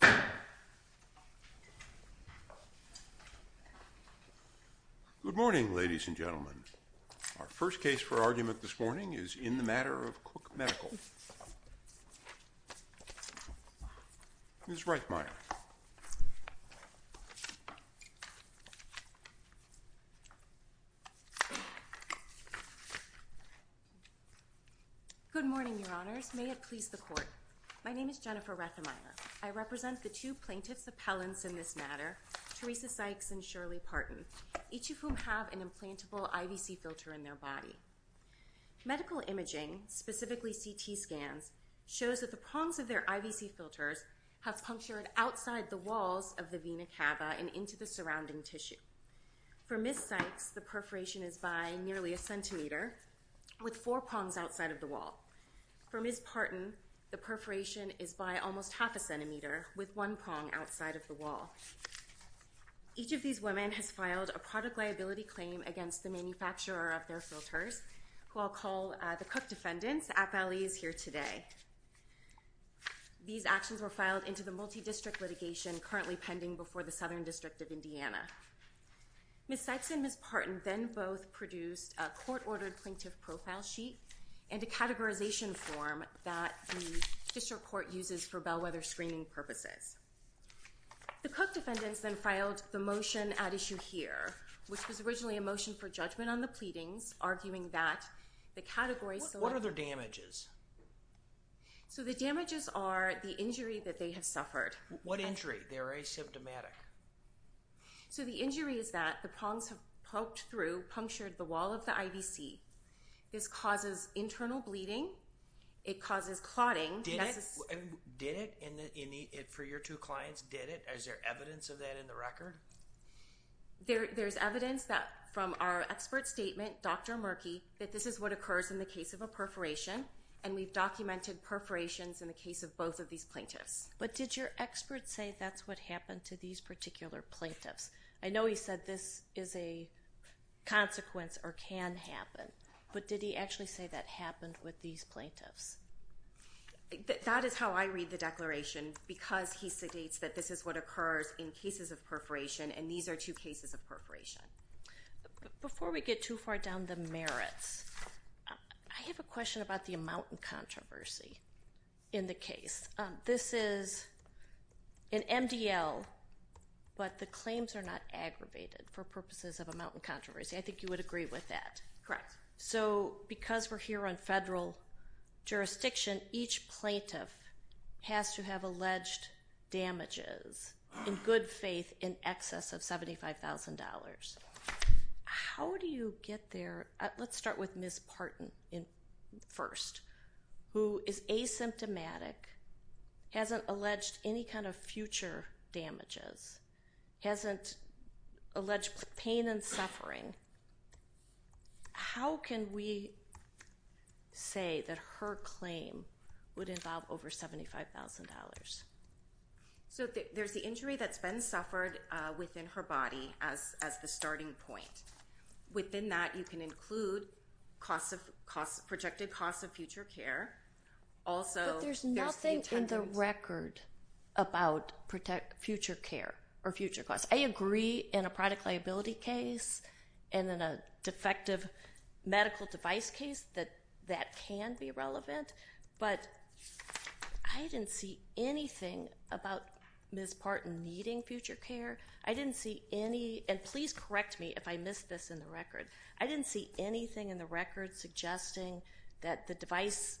Good morning, ladies and gentlemen. Our first case for argument this morning is in the matter of Cook Medical. Ms. Reitmeyer. Good morning, Your Honors. May it please the Court. My name is Jennifer Reitmeyer. I represent the two plaintiffs' appellants in this matter, Teresa Sykes and Shirley Parton, each of whom have an implantable IVC filter in their body. Medical imaging, specifically CT scans, shows that the prongs of their IVC filters have punctured outside the walls of the vena cava and into the surrounding tissue. For Ms. Sykes, the perforation is by nearly a centimeter, with four prongs outside of the wall. For Ms. Parton, the perforation is by almost half a centimeter, with one prong outside of the wall. Each of these women has filed a product liability claim against the manufacturer of their filters, who I'll call the Cook defendants, appallees here today. These actions were filed into the multi-district litigation currently pending before the Southern District of Indiana. Ms. Sykes and Ms. Parton then both produced a court-ordered plaintiff profile sheet and a categorization form that the district court uses for bellwether screening purposes. The Cook defendants then filed the motion at issue here, which was originally a motion for judgment on the pleadings, arguing that the categories... What are the damages? So the damages are the injury that they have suffered. What injury? They're asymptomatic. So the injury is that the prongs have poked through, punctured the wall of the IVC, this causes internal bleeding, it causes clotting. Did it? For your two clients, did it? Is there evidence of that in the record? There's evidence from our expert statement, Dr. Murky, that this is what occurs in the case of a perforation, and we've documented perforations in the case of both of these plaintiffs. But did your expert say that's what happened to these particular plaintiffs? I know he said this is a consequence or can happen, but did he actually say that happened with these plaintiffs? That is how I read the declaration, because he states that this is what occurs in cases of perforation, and these are two cases of perforation. Before we get too far down the merits, I have a question about the amount and controversy in the case. This is an MDL, but the claims are not aggravated for purposes of amount and controversy. I think you would agree with that. Correct. So because we're here on federal jurisdiction, each plaintiff has to have alleged damages in good faith in excess of $75,000. How do you get there? Let's start with Ms. Parton first, who is asymptomatic, hasn't alleged any kind of future damages, hasn't alleged pain and suffering. How can we say that her claim would involve over $75,000? So there's the injury that's been suffered within her body as the starting point. Within that, you can include projected costs of future care. But there's nothing in the record about future care or future costs. I agree in a product liability case and in a defective medical device case that that can be relevant, but I didn't see anything about Ms. Parton needing future care. I didn't see any, and please correct me if I missed this in the record, I didn't see anything in the record suggesting that the device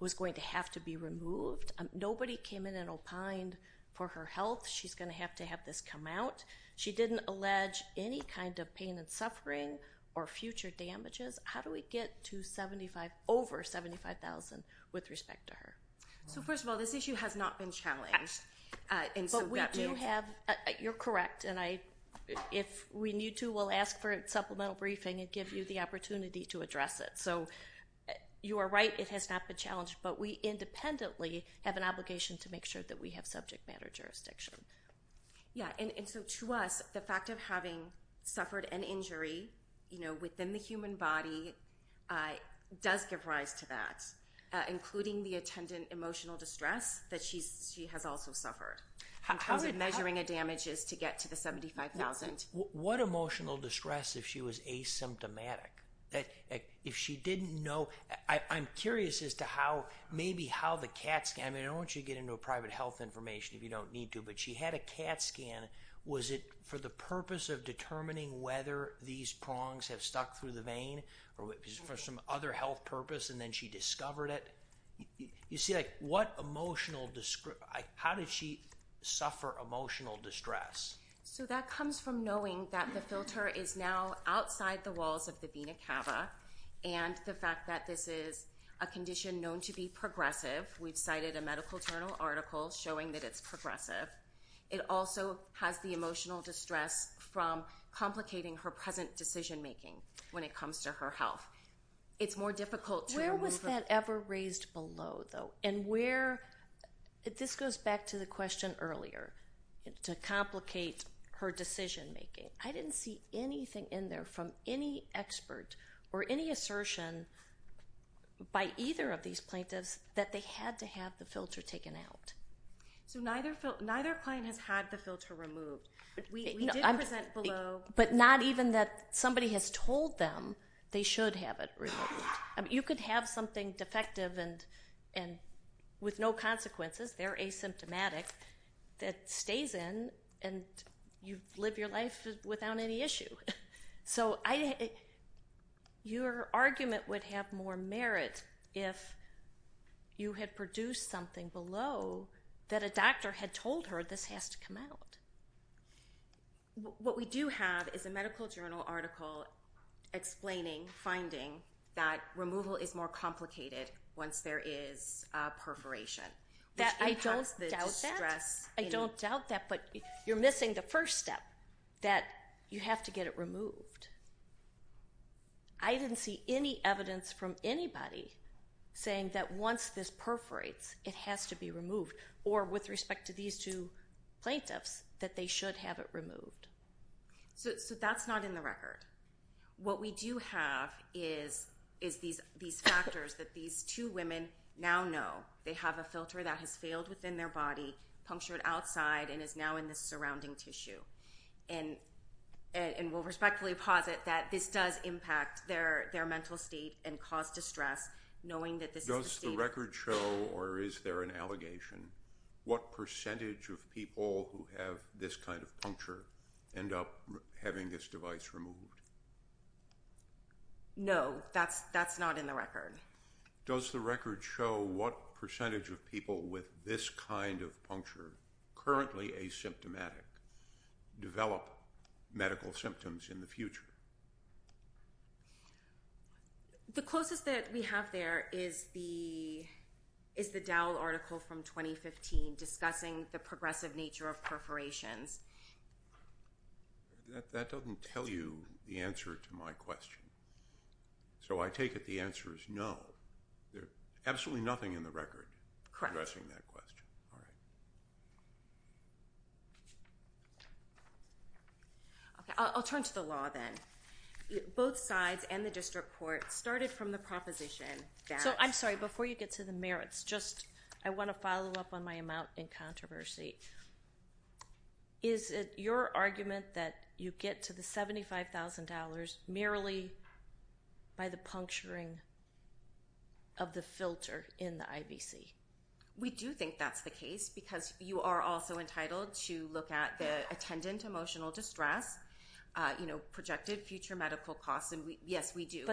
was going to have to be removed. Nobody came in and opined for her health. She's going to have to have this come out. She didn't allege any kind of pain and suffering or future damages. How do we get to over $75,000 with respect to her? So first of all, this issue has not been challenged. You're correct, and if we need to, we'll ask for a supplemental briefing and give you the obligation to make sure that we have subject matter jurisdiction. Yeah, and so to us, the fact of having suffered an injury within the human body does give rise to that, including the attendant emotional distress that she has also suffered. How did that? In terms of measuring a damages to get to the $75,000. What emotional distress if she was asymptomatic? If she didn't know, I'm curious as to how maybe the CAT scan, I don't want you to get into private health information if you don't need to, but she had a CAT scan. Was it for the purpose of determining whether these prongs have stuck through the vein or for some other health purpose and then she discovered it? You see, how did she suffer emotional distress? So that comes from knowing that the filter is now outside the walls of the vena cava and the fact that this is a condition known to be progressive. We've cited a medical journal article showing that it's progressive. It also has the emotional distress from complicating her present decision-making when it comes to her health. It's more difficult to remove- Where was that ever raised below though? And where, this goes back to the question earlier, to complicate her decision-making. I didn't see anything in there from any expert or any assertion by either of these plaintiffs that they had to have the filter taken out. So neither client has had the filter removed. We did present below- But not even that somebody has told them they should have it removed. You could have something defective and with no consequences, they're asymptomatic, that stays in and you live your life without any issue. So your argument would have more merit if you had produced something below that a doctor had told her this has to come out. What we do have is a medical journal article explaining, finding that removal is more complicated once there is a perforation. I don't doubt that, but you're missing the first step, that you have to get it removed. I didn't see any evidence from anybody saying that once this should have it removed. So that's not in the record. What we do have is these factors that these two women now know they have a filter that has failed within their body, punctured outside, and is now in the surrounding tissue. And we'll respectfully posit that this does impact their mental state and cause distress knowing that this is- Does the record show or is there an allegation what percentage of people who have this kind of puncture end up having this device removed? No, that's not in the record. Does the record show what percentage of people with this kind of puncture, currently asymptomatic, develop medical symptoms in the future? The closest that we have there is the Dowell article from 2015 discussing the progressive nature of perforations. That doesn't tell you the answer to my question. So I take it the answer is no. There's absolutely nothing in the record addressing that question. Correct. Okay, I'll turn to the law then. Both sides and the district court started from the proposition that- So I'm sorry, before you get to the merits, just I want to follow up on my amount in controversy. Is it your argument that you get to the $75,000 merely by the puncturing of the filter in the IBC? We do think that's the case because you are also entitled to look at the attendant emotional distress, you know, projected future medical costs, and yes, we do.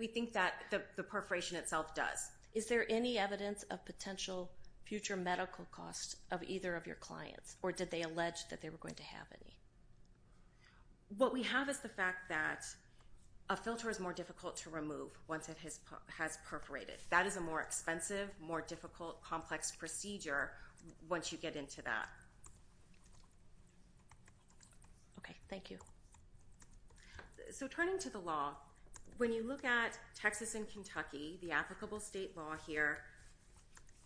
We think that the perforation itself does. Is there any evidence of potential future medical costs of either of your clients or did they allege that they were going to have any? What we have is the has perforated. That is a more expensive, more difficult, complex procedure once you get into that. Okay, thank you. So turning to the law, when you look at Texas and Kentucky, the applicable state law here,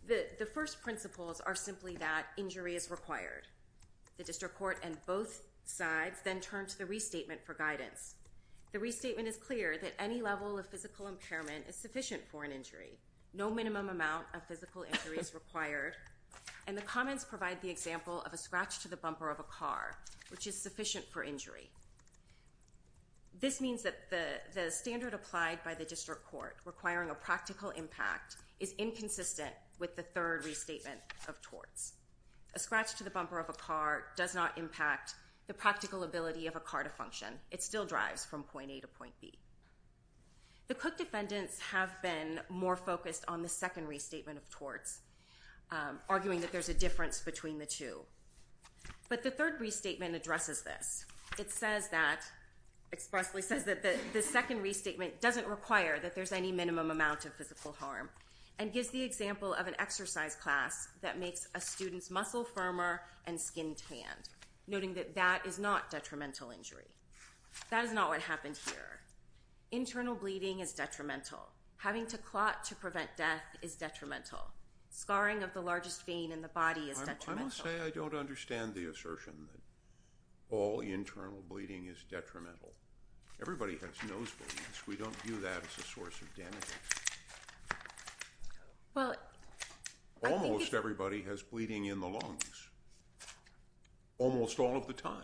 the first principles are simply that injury is required. The district court and both sides then turned to the restatement for guidance. The restatement is clear that any level of physical impairment is sufficient for an injury. No minimum amount of physical injury is required and the comments provide the example of a scratch to the bumper of a car, which is sufficient for injury. This means that the standard applied by the district court requiring a practical impact is inconsistent with the third restatement of torts. A scratch to the bumper of a car does not impact the practical ability of a car to function. It still drives from point A to point B. The Cook defendants have been more focused on the second restatement of torts, arguing that there's a difference between the two. But the third restatement addresses this. It says that, expressly says that the second restatement doesn't require that there's any minimum amount of physical harm and gives the example of an exercise class that makes a student's muscle firmer and skin tanned, noting that that is not detrimental injury. That is not what happened here. Internal bleeding is detrimental. Having to clot to prevent death is detrimental. Scarring of the largest vein in the body is detrimental. I must say I don't understand the assertion that all internal bleeding is detrimental. Everybody has nosebleeds. We don't view that as a source of damage. Almost everybody has bleeding in the lungs almost all of the time.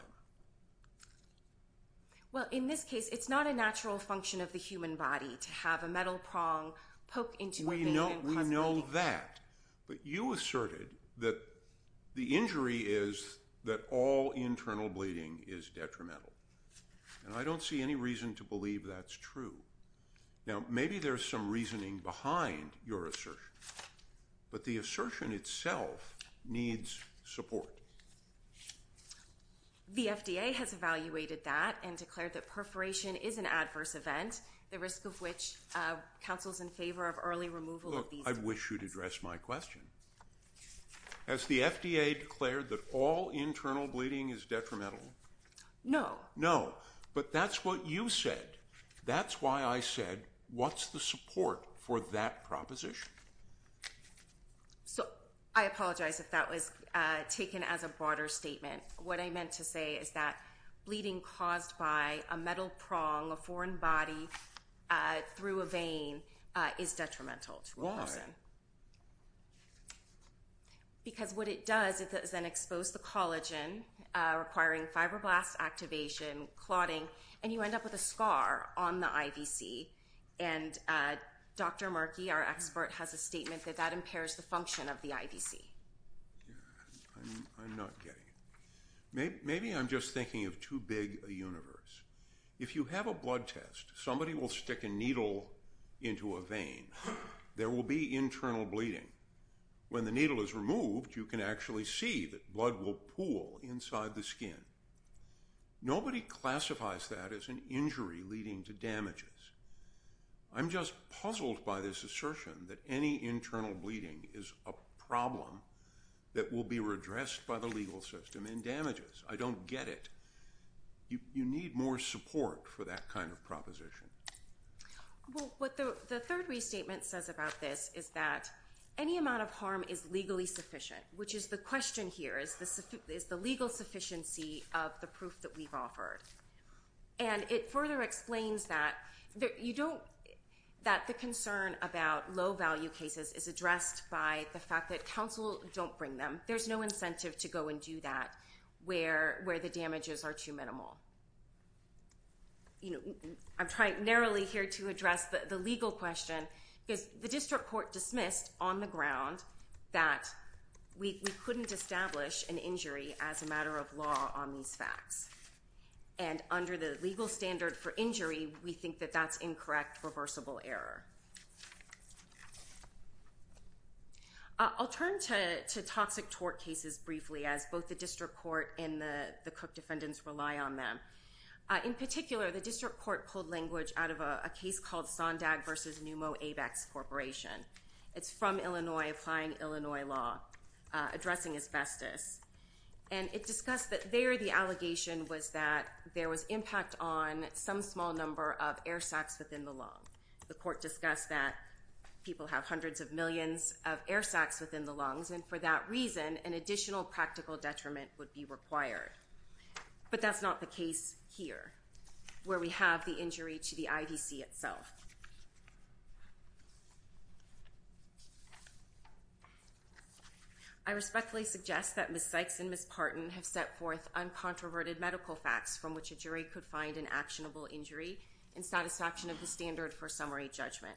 Well, in this case, it's not a natural function of the human body to have a metal prong poke into a vein and cause bleeding. We know that. But you asserted that the injury is that all internal bleeding is detrimental. And I don't see any reason to believe that's true. Now, maybe there's some reasoning behind your assertion. But the assertion itself needs support. The FDA has evaluated that and declared that perforation is an adverse event, the risk of which counsels in favor of early removal. I wish you'd address my question. Has the FDA declared that all internal bleeding is detrimental? No, no. But that's what you said. That's why I said, what's the support for that proposition? So, I apologize if that was taken as a broader statement. What I meant to say is that bleeding caused by a metal prong, a foreign body through a vein is detrimental to a person. Because what it does is then expose the collagen, requiring fibroblast activation, clotting, and you end up with a scar on the IVC. And Dr. Markey, our expert, has a statement that that impairs the function of the IVC. I'm not getting it. Maybe I'm just thinking of too big a universe. If you have a blood test, somebody will stick a needle into a vein. There will be internal bleeding. When the needle is inserted, it classifies that as an injury leading to damages. I'm just puzzled by this assertion that any internal bleeding is a problem that will be redressed by the legal system and damages. I don't get it. You need more support for that kind of proposition. Well, what the third restatement says about this is that any amount of harm is legally sufficient, which is the question here. Is the legal sufficiency of the proof that we've offered? And it further explains that the concern about low-value cases is addressed by the fact that counsel don't bring them. There's no incentive to go and do that where the damages are too minimal. I'm trying narrowly here to address the legal question because the district court dismissed on the ground that we couldn't establish an injury as a matter of law on these facts. And under the legal standard for injury, we think that that's incorrect reversible error. I'll turn to toxic tort cases briefly as both the district court and the Cook defendants rely on them. In particular, the district court pulled language out of a case called Sondag versus Numo Apex Corporation. It's from Illinois, applying Illinois law, addressing asbestos. And it discussed that there the allegation was that there was impact on some small number of air sacs within the lung. The court discussed that people have hundreds of millions of air sacs within the lungs. And for that reason, an additional practical detriment would be required. But that's not the case here where we have the injury to the IVC itself. I respectfully suggest that Ms. Sykes and Ms. Parton have set forth uncontroverted medical facts from which a jury could find an actionable injury in satisfaction of the standard for summary judgment.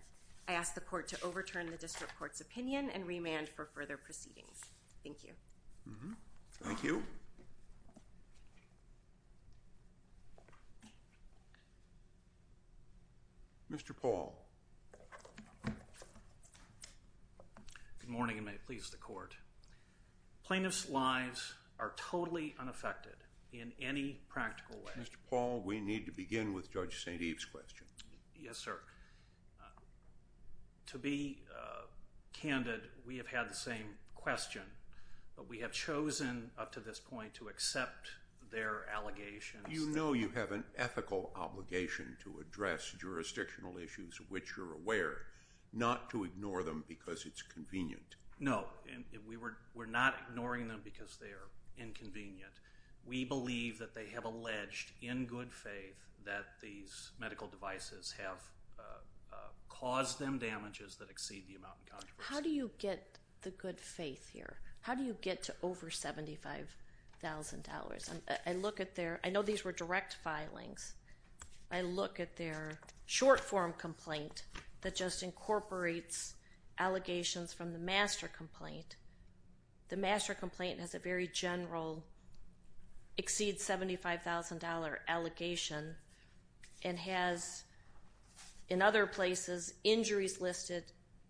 I ask the court to overturn the district court's opinion and remand for further proceedings. Thank you. Thank you. Mr. Paul. Good morning and may it please the court. Plaintiffs' lives are totally unaffected in any practical way. Mr. Paul, we need to begin with Judge St. Eve's question. Yes, sir. To be candid, we have had the same question, but we have chosen up to this point to accept their allegations. You know you have an ethical obligation to address jurisdictional issues which you're aware, not to ignore them because it's convenient. No, we're not ignoring them because they are inconvenient. We believe that they have alleged in good faith that these caused them damages that exceed the amount in controversy. How do you get the good faith here? How do you get to over $75,000? I look at their, I know these were direct filings, I look at their short form complaint that just incorporates allegations from the master complaint. The master complaint has a very general exceed $75,000 allegation and has in other places injuries listed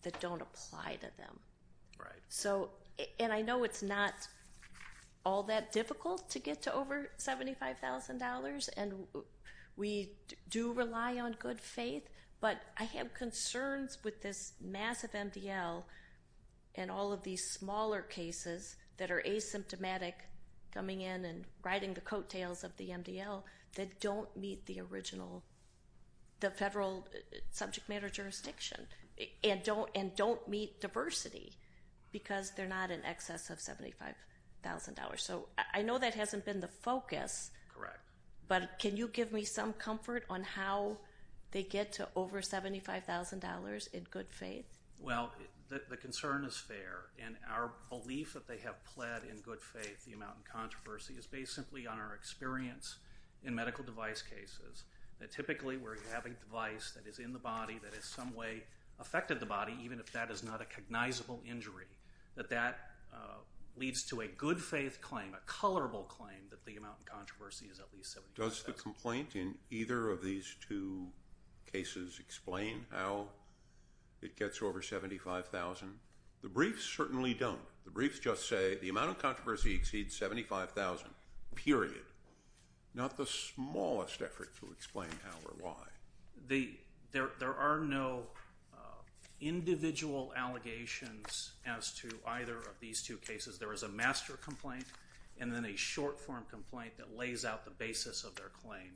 that don't apply to them. Right. So, and I know it's not all that difficult to get to over $75,000 and we do rely on good faith, but I have concerns with this massive MDL and all of these smaller cases that are asymptomatic coming in and riding the federal subject matter jurisdiction and don't meet diversity because they're not in excess of $75,000. So, I know that hasn't been the focus. Correct. But can you give me some comfort on how they get to over $75,000 in good faith? Well, the concern is fair and our belief that they have pled in good faith the amount in controversy is based simply on our experience in medical device cases that typically where you have a device that is in the body that in some way affected the body even if that is not a cognizable injury, that that leads to a good faith claim, a colorable claim that the amount in controversy is at least $75,000. Does the complaint in either of these two cases explain how it gets over $75,000? The briefs certainly don't. The briefs say the amount of controversy exceeds $75,000, period. Not the smallest effort to explain how or why. There are no individual allegations as to either of these two cases. There is a master complaint and then a short form complaint that lays out the basis of their claim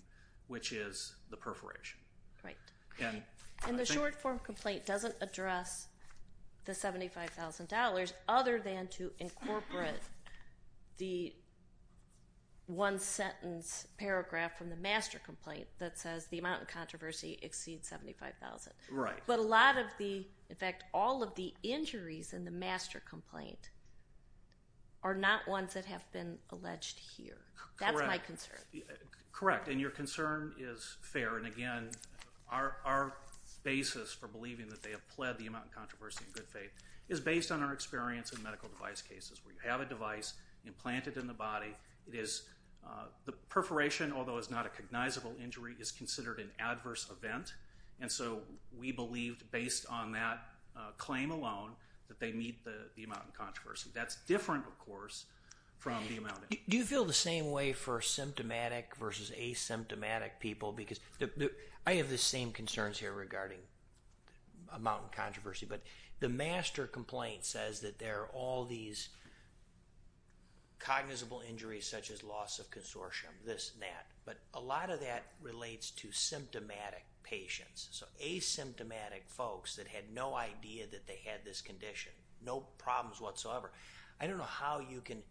which is the perforation. Right. And the short form complaint doesn't address the $75,000 other than to incorporate the one sentence paragraph from the master complaint that says the amount of controversy exceeds $75,000. Right. But a lot of the, in fact all of the injuries in the master complaint are not ones that have been alleged here. Correct. That's my concern. Correct. And your concern is fair and again our basis for believing that they have pled the amount in controversy in good faith is based on our experience in medical device cases where you have a device implanted in the body. It is, the perforation although is not a cognizable injury is considered an adverse event and so we believed based on that claim alone that they meet the amount in controversy. That's different of course from the amount. Do you feel the same way for symptomatic versus asymptomatic people because I have the same concerns here regarding amount in controversy but the master complaint says that there are all these cognizable injuries such as loss of consortium this and that but a lot of that relates to symptomatic patients. So asymptomatic folks that had no idea that they had this condition, no problems whatsoever. I don't know how you can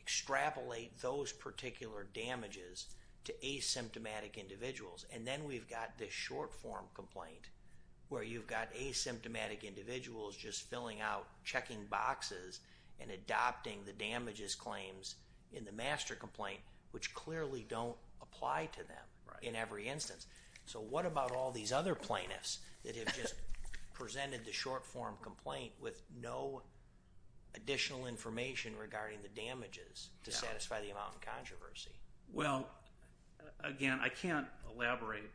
extrapolate those particular damages to asymptomatic individuals just filling out checking boxes and adopting the damages claims in the master complaint which clearly don't apply to them in every instance. So what about all these other plaintiffs that have just presented the short form complaint with no additional information regarding the damages to satisfy the amount in controversy? Well, again I can't elaborate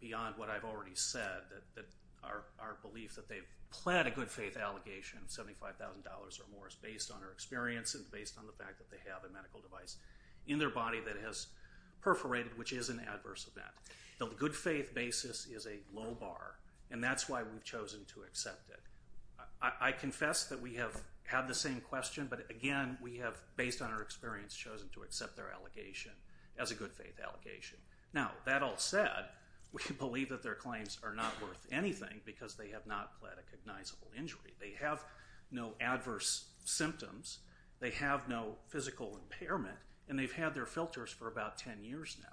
beyond what I've already said that our belief that they've pled a good faith allegation of $75,000 or more is based on our experience and based on the fact that they have a medical device in their body that has perforated which is an adverse event. The good faith basis is a low bar and that's why we've chosen to accept it. I confess that we have had the same question but again we have based on our experience chosen to accept their allegation as a good faith allegation. Now that all said, we can believe that their claims are not worth anything because they have not pled a cognizable injury. They have no adverse symptoms. They have no physical impairment and they've had their filters for about 10 years now.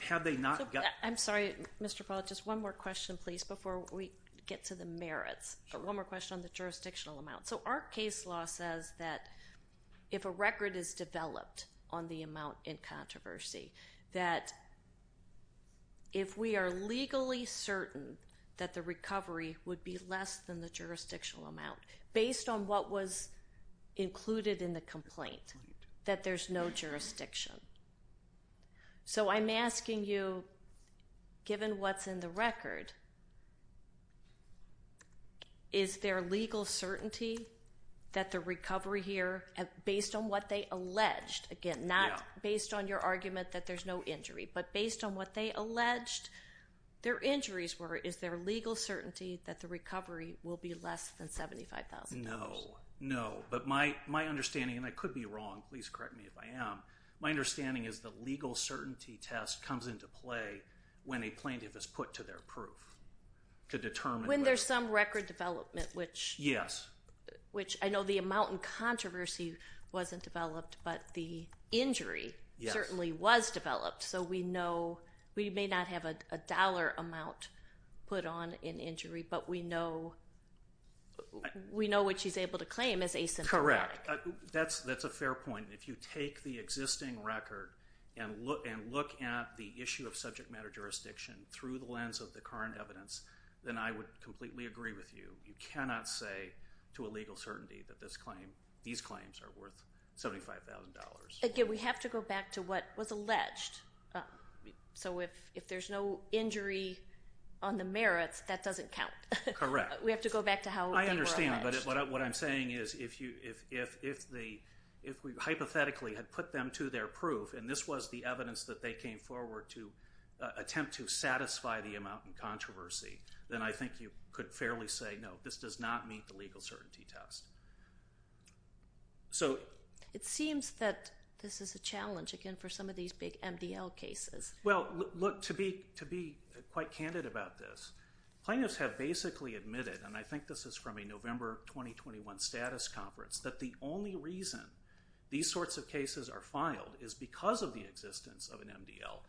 Have they not- I'm sorry Mr. Paul, just one more question please before we get to the merits. One more question on the jurisdictional amount. So our case law says that if a record is developed on the amount in that if we are legally certain that the recovery would be less than the jurisdictional amount based on what was included in the complaint that there's no jurisdiction. So I'm asking you given what's in the record is there legal certainty that the recovery here based on what they alleged again not based on your argument that there's no injury but based on what they alleged their injuries were is there legal certainty that the recovery will be less than $75,000? No, no but my understanding and I could be wrong please correct me if I am. My understanding is the legal certainty test comes into play when a plaintiff is put to their proof to determine- When there's some record development which- Yes. Which I know the amount in controversy wasn't developed but the injury certainly was developed so we know we may not have a dollar amount put on in injury but we know we know what she's able to claim as asymptomatic. Correct. That's a fair point. If you take the existing record and look at the issue of subject matter jurisdiction through the lens of the claim you cannot say to a legal certainty that this claim these claims are worth $75,000. Again we have to go back to what was alleged so if there's no injury on the merits that doesn't count. Correct. We have to go back to how- I understand but what I'm saying is if we hypothetically had put them to their proof and this was the evidence that they came forward to attempt to meet the legal certainty test. So it seems that this is a challenge again for some of these big MDL cases. Well look to be quite candid about this plaintiffs have basically admitted and I think this is from a November 2021 status conference that the only reason these sorts of cases are filed is because of the existence of an MDL.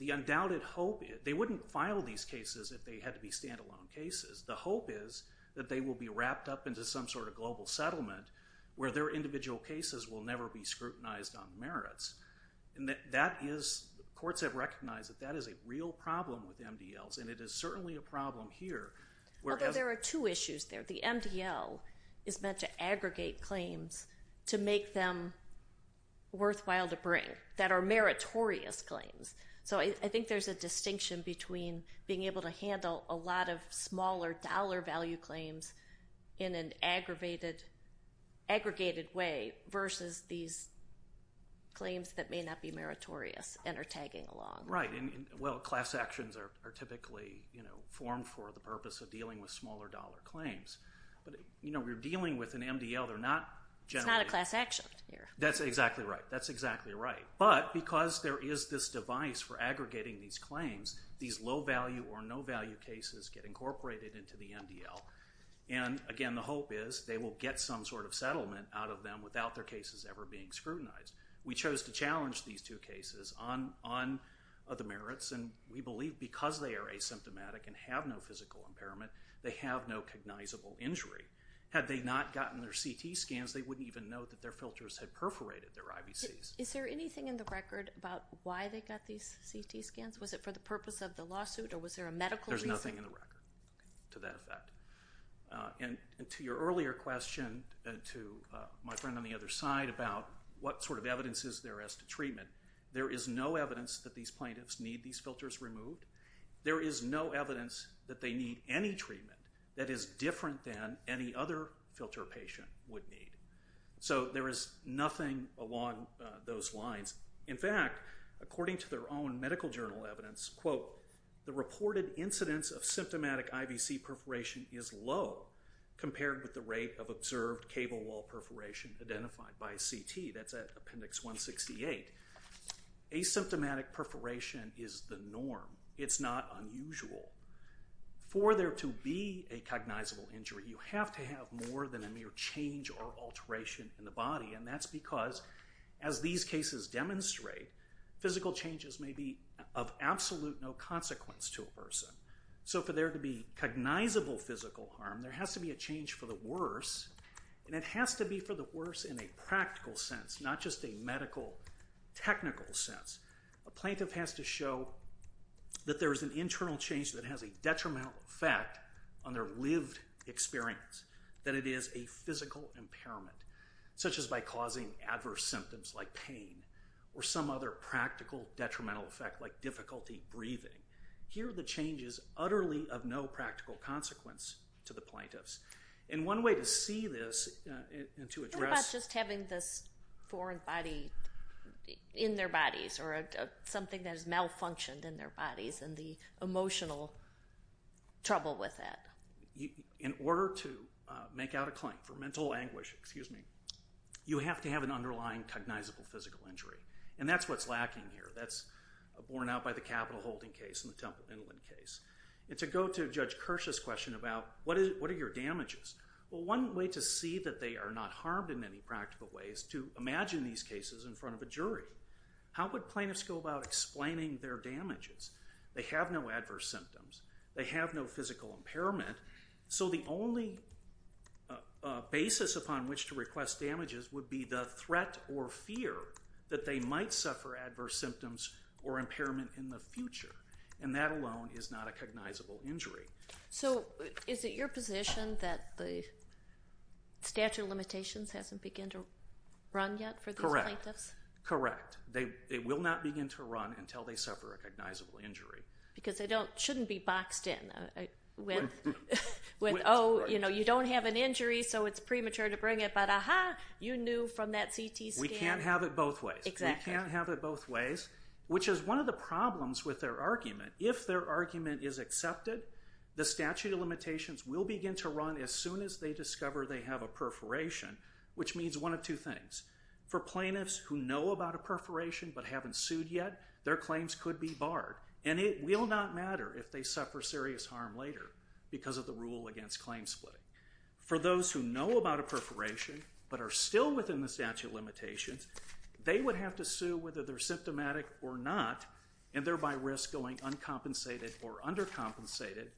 The undoubted hope- They wouldn't file these cases if they had to be standalone cases. The hope is that they will be wrapped up into some sort of global settlement where their individual cases will never be scrutinized on merits and that is- courts have recognized that that is a real problem with MDLs and it is certainly a problem here. Although there are two issues there. The MDL is meant to aggregate claims to make them worthwhile to bring that are meritorious claims. So I think there's a being able to handle a lot of smaller dollar value claims in an aggregated way versus these claims that may not be meritorious and are tagging along. Right and well class actions are typically you know formed for the purpose of dealing with smaller dollar claims but you know we're dealing with an MDL they're not generally- It's not a class action. That's exactly right. That's exactly right These low value or no value cases get incorporated into the MDL and again the hope is they will get some sort of settlement out of them without their cases ever being scrutinized. We chose to challenge these two cases on the merits and we believe because they are asymptomatic and have no physical impairment they have no cognizable injury. Had they not gotten their CT scans they wouldn't even know that their filters had perforated their IVCs. Is there anything in the record about why they got these CT scans? Was it for the purpose of the lawsuit or was there a medical- There's nothing in the record to that effect. And to your earlier question to my friend on the other side about what sort of evidence is there as to treatment there is no evidence that these plaintiffs need these filters removed. There is no evidence that they need any treatment that is different than any other filter patient would need. So there is nothing along those lines. In fact according to their own medical journal evidence, quote, the reported incidence of symptomatic IVC perforation is low compared with the rate of observed cable wall perforation identified by CT. That's at appendix 168. Asymptomatic perforation is the norm. It's not unusual. For there to be a cognizable injury you have to have more than a mere change or alteration in the body and that's because as these cases demonstrate physical changes may be of absolute no consequence to a person. So for there to be cognizable physical harm there has to be a change for the worse and it has to be for the worse in a practical sense not just a medical technical sense. A plaintiff has to show that there is an internal change that has a detrimental effect on their lived experience, that it is a physical impairment, such as by causing adverse symptoms like pain or some other practical detrimental effect like difficulty breathing. Here the change is utterly of no practical consequence to the plaintiffs. And one way to see this and to address... What about just having this foreign body in their bodies or something that is malfunctioned in their bodies and the emotional trouble with that? In order to make out a claim for mental anguish, excuse me, you have to have an underlying cognizable physical injury and that's what's lacking here. That's borne out by the Capitol holding case and the Temple Inland case. And to go to Judge Kirsch's question about what are your damages? Well one way to see that they are not harmed in any practical way is to imagine these cases in front of a jury. How would plaintiffs go about explaining their damages? They have no adverse symptoms. They have no physical impairment. So the only basis upon which to request damages would be the threat or fear that they might suffer adverse symptoms or impairment in the future and that alone is not a cognizable injury. So is it your position that the statute of limitations hasn't begun to run yet for these plaintiffs? No, it hasn't begun to run until they suffer a cognizable injury. Because they shouldn't be boxed in with oh you know you don't have an injury so it's premature to bring it but aha you knew from that CT scan. We can't have it both ways. We can't have it both ways which is one of the problems with their argument. If their argument is accepted, the statute of limitations will begin to run as soon as they discover they have a perforation which means one of two things. For plaintiffs who know about a perforation yet, their claims could be barred and it will not matter if they suffer serious harm later because of the rule against claim splitting. For those who know about a perforation but are still within the statute of limitations, they would have to sue whether they're symptomatic or not and thereby risk going uncompensated or undercompensated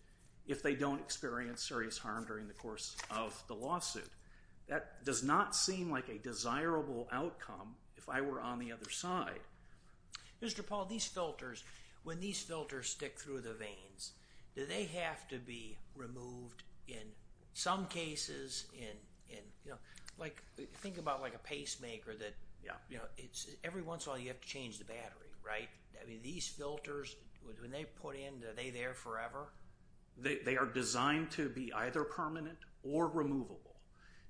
if they don't experience serious harm during the course of the lawsuit. That does not seem like a desirable outcome if I were on the other side. Mr. Paul, these filters, when these filters stick through the veins, do they have to be removed in some cases? Think about like a pacemaker that every once in a while you have to change the battery, right? These filters, when they put in, are they there forever? They are designed to be either permanent or removable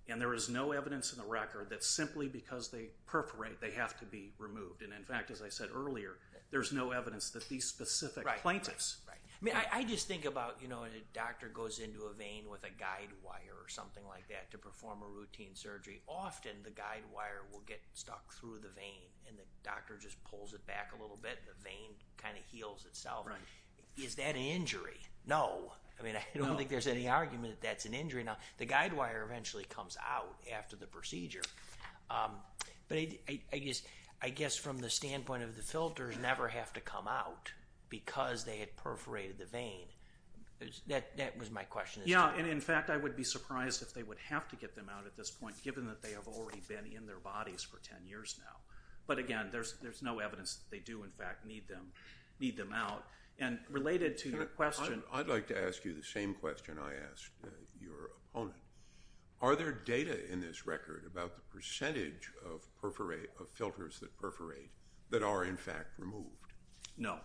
and there is no evidence in the record that simply because they perforate they have to be removed. In fact, as I said earlier, there's no evidence that these specific plaintiffs. I just think about when a doctor goes into a vein with a guide wire or something like that to perform a routine surgery, often the guide wire will get stuck through the vein and the doctor just pulls it back a little bit and the vein kind of heals itself. Is that an injury? No. I mean, I don't think there's any argument that that's an injury. Now, the guide wire eventually comes out after the procedure, but I guess from the standpoint of the filters never have to come out because they had perforated the vein, that was my question. Yeah, and in fact, I would be surprised if they would have to get them out at this point given that they have already been in their bodies for 10 years now. But again, there's no evidence that they do in fact need them out and related to your question. I'd like to ask you the same question I asked your opponent. Are there data in this record about the percentage of filters that perforate that are in fact removed? No,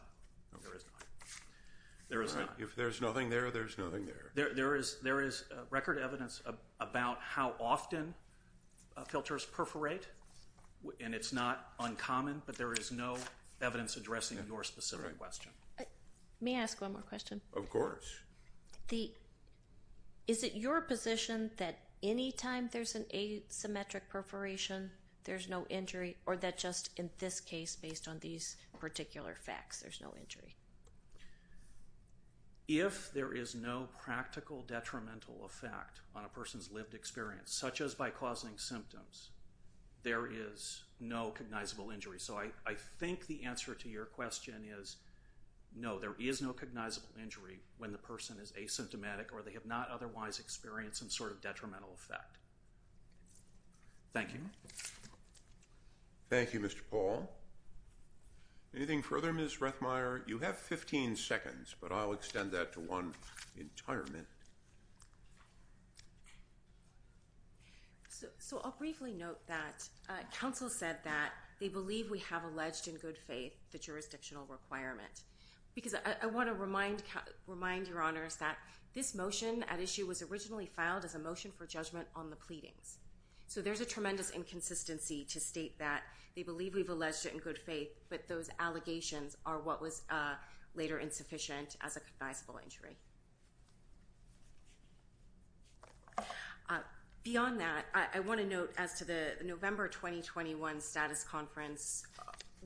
there is not. If there's nothing there, there's nothing there. There is record evidence about how often filters perforate, and it's not uncommon, but there is no evidence addressing your specific question. May I ask one more question? Of course. Is it your position that any time there's an asymmetric perforation, there's no injury, or that just in this case based on these particular facts, there's no injury? If there is no practical detrimental effect on a person's lived experience, such as by causing symptoms, there is no cognizable injury. So I think the answer to your question is no, there is no cognizable injury when the person is asymptomatic or they have not otherwise experienced some sort of detrimental effect. Thank you. Thank you, Mr. Paul. Anything further, Ms. Rethmeyer? You have 15 seconds, but I'll extend that to one entire minute. So I'll briefly note that counsel said that they believe we have alleged in good faith the jurisdictional requirement, because I want to remind your honors that this motion at issue was originally filed as a motion for judgment on the pleadings. So there's a tremendous inconsistency to state that they believe we've alleged it in good faith, but those allegations are what was later insufficient as a cognizable injury. Beyond that, I want to note as to the November 2021 status conference,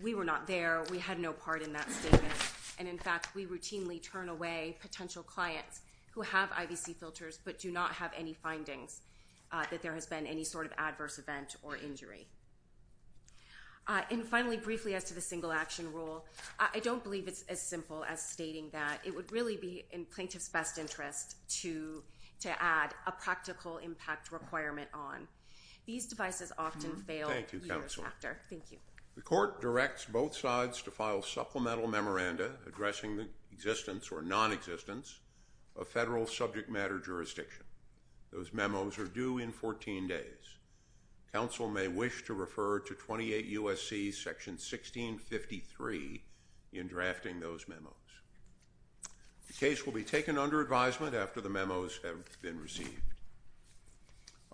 we were not there. We had no part in that statement. And in fact, we routinely turn away potential clients who have IVC filters but do not have any findings that there has been any sort of adverse event or injury. And finally, briefly as to the single action rule, I don't believe it's as simple as stating that. It would really be in plaintiff's best interest to add a practical impact requirement on. These devices often fail. Thank you, Counselor. Thank you. The court directs both sides to file supplemental memoranda addressing the existence or nonexistence of federal subject matter jurisdiction. Those memos are due in 14 days. Counsel may wish to refer to 28 U.S.C. section 1653 in drafting those memos. The case will be taken under advisement after the memos have been received.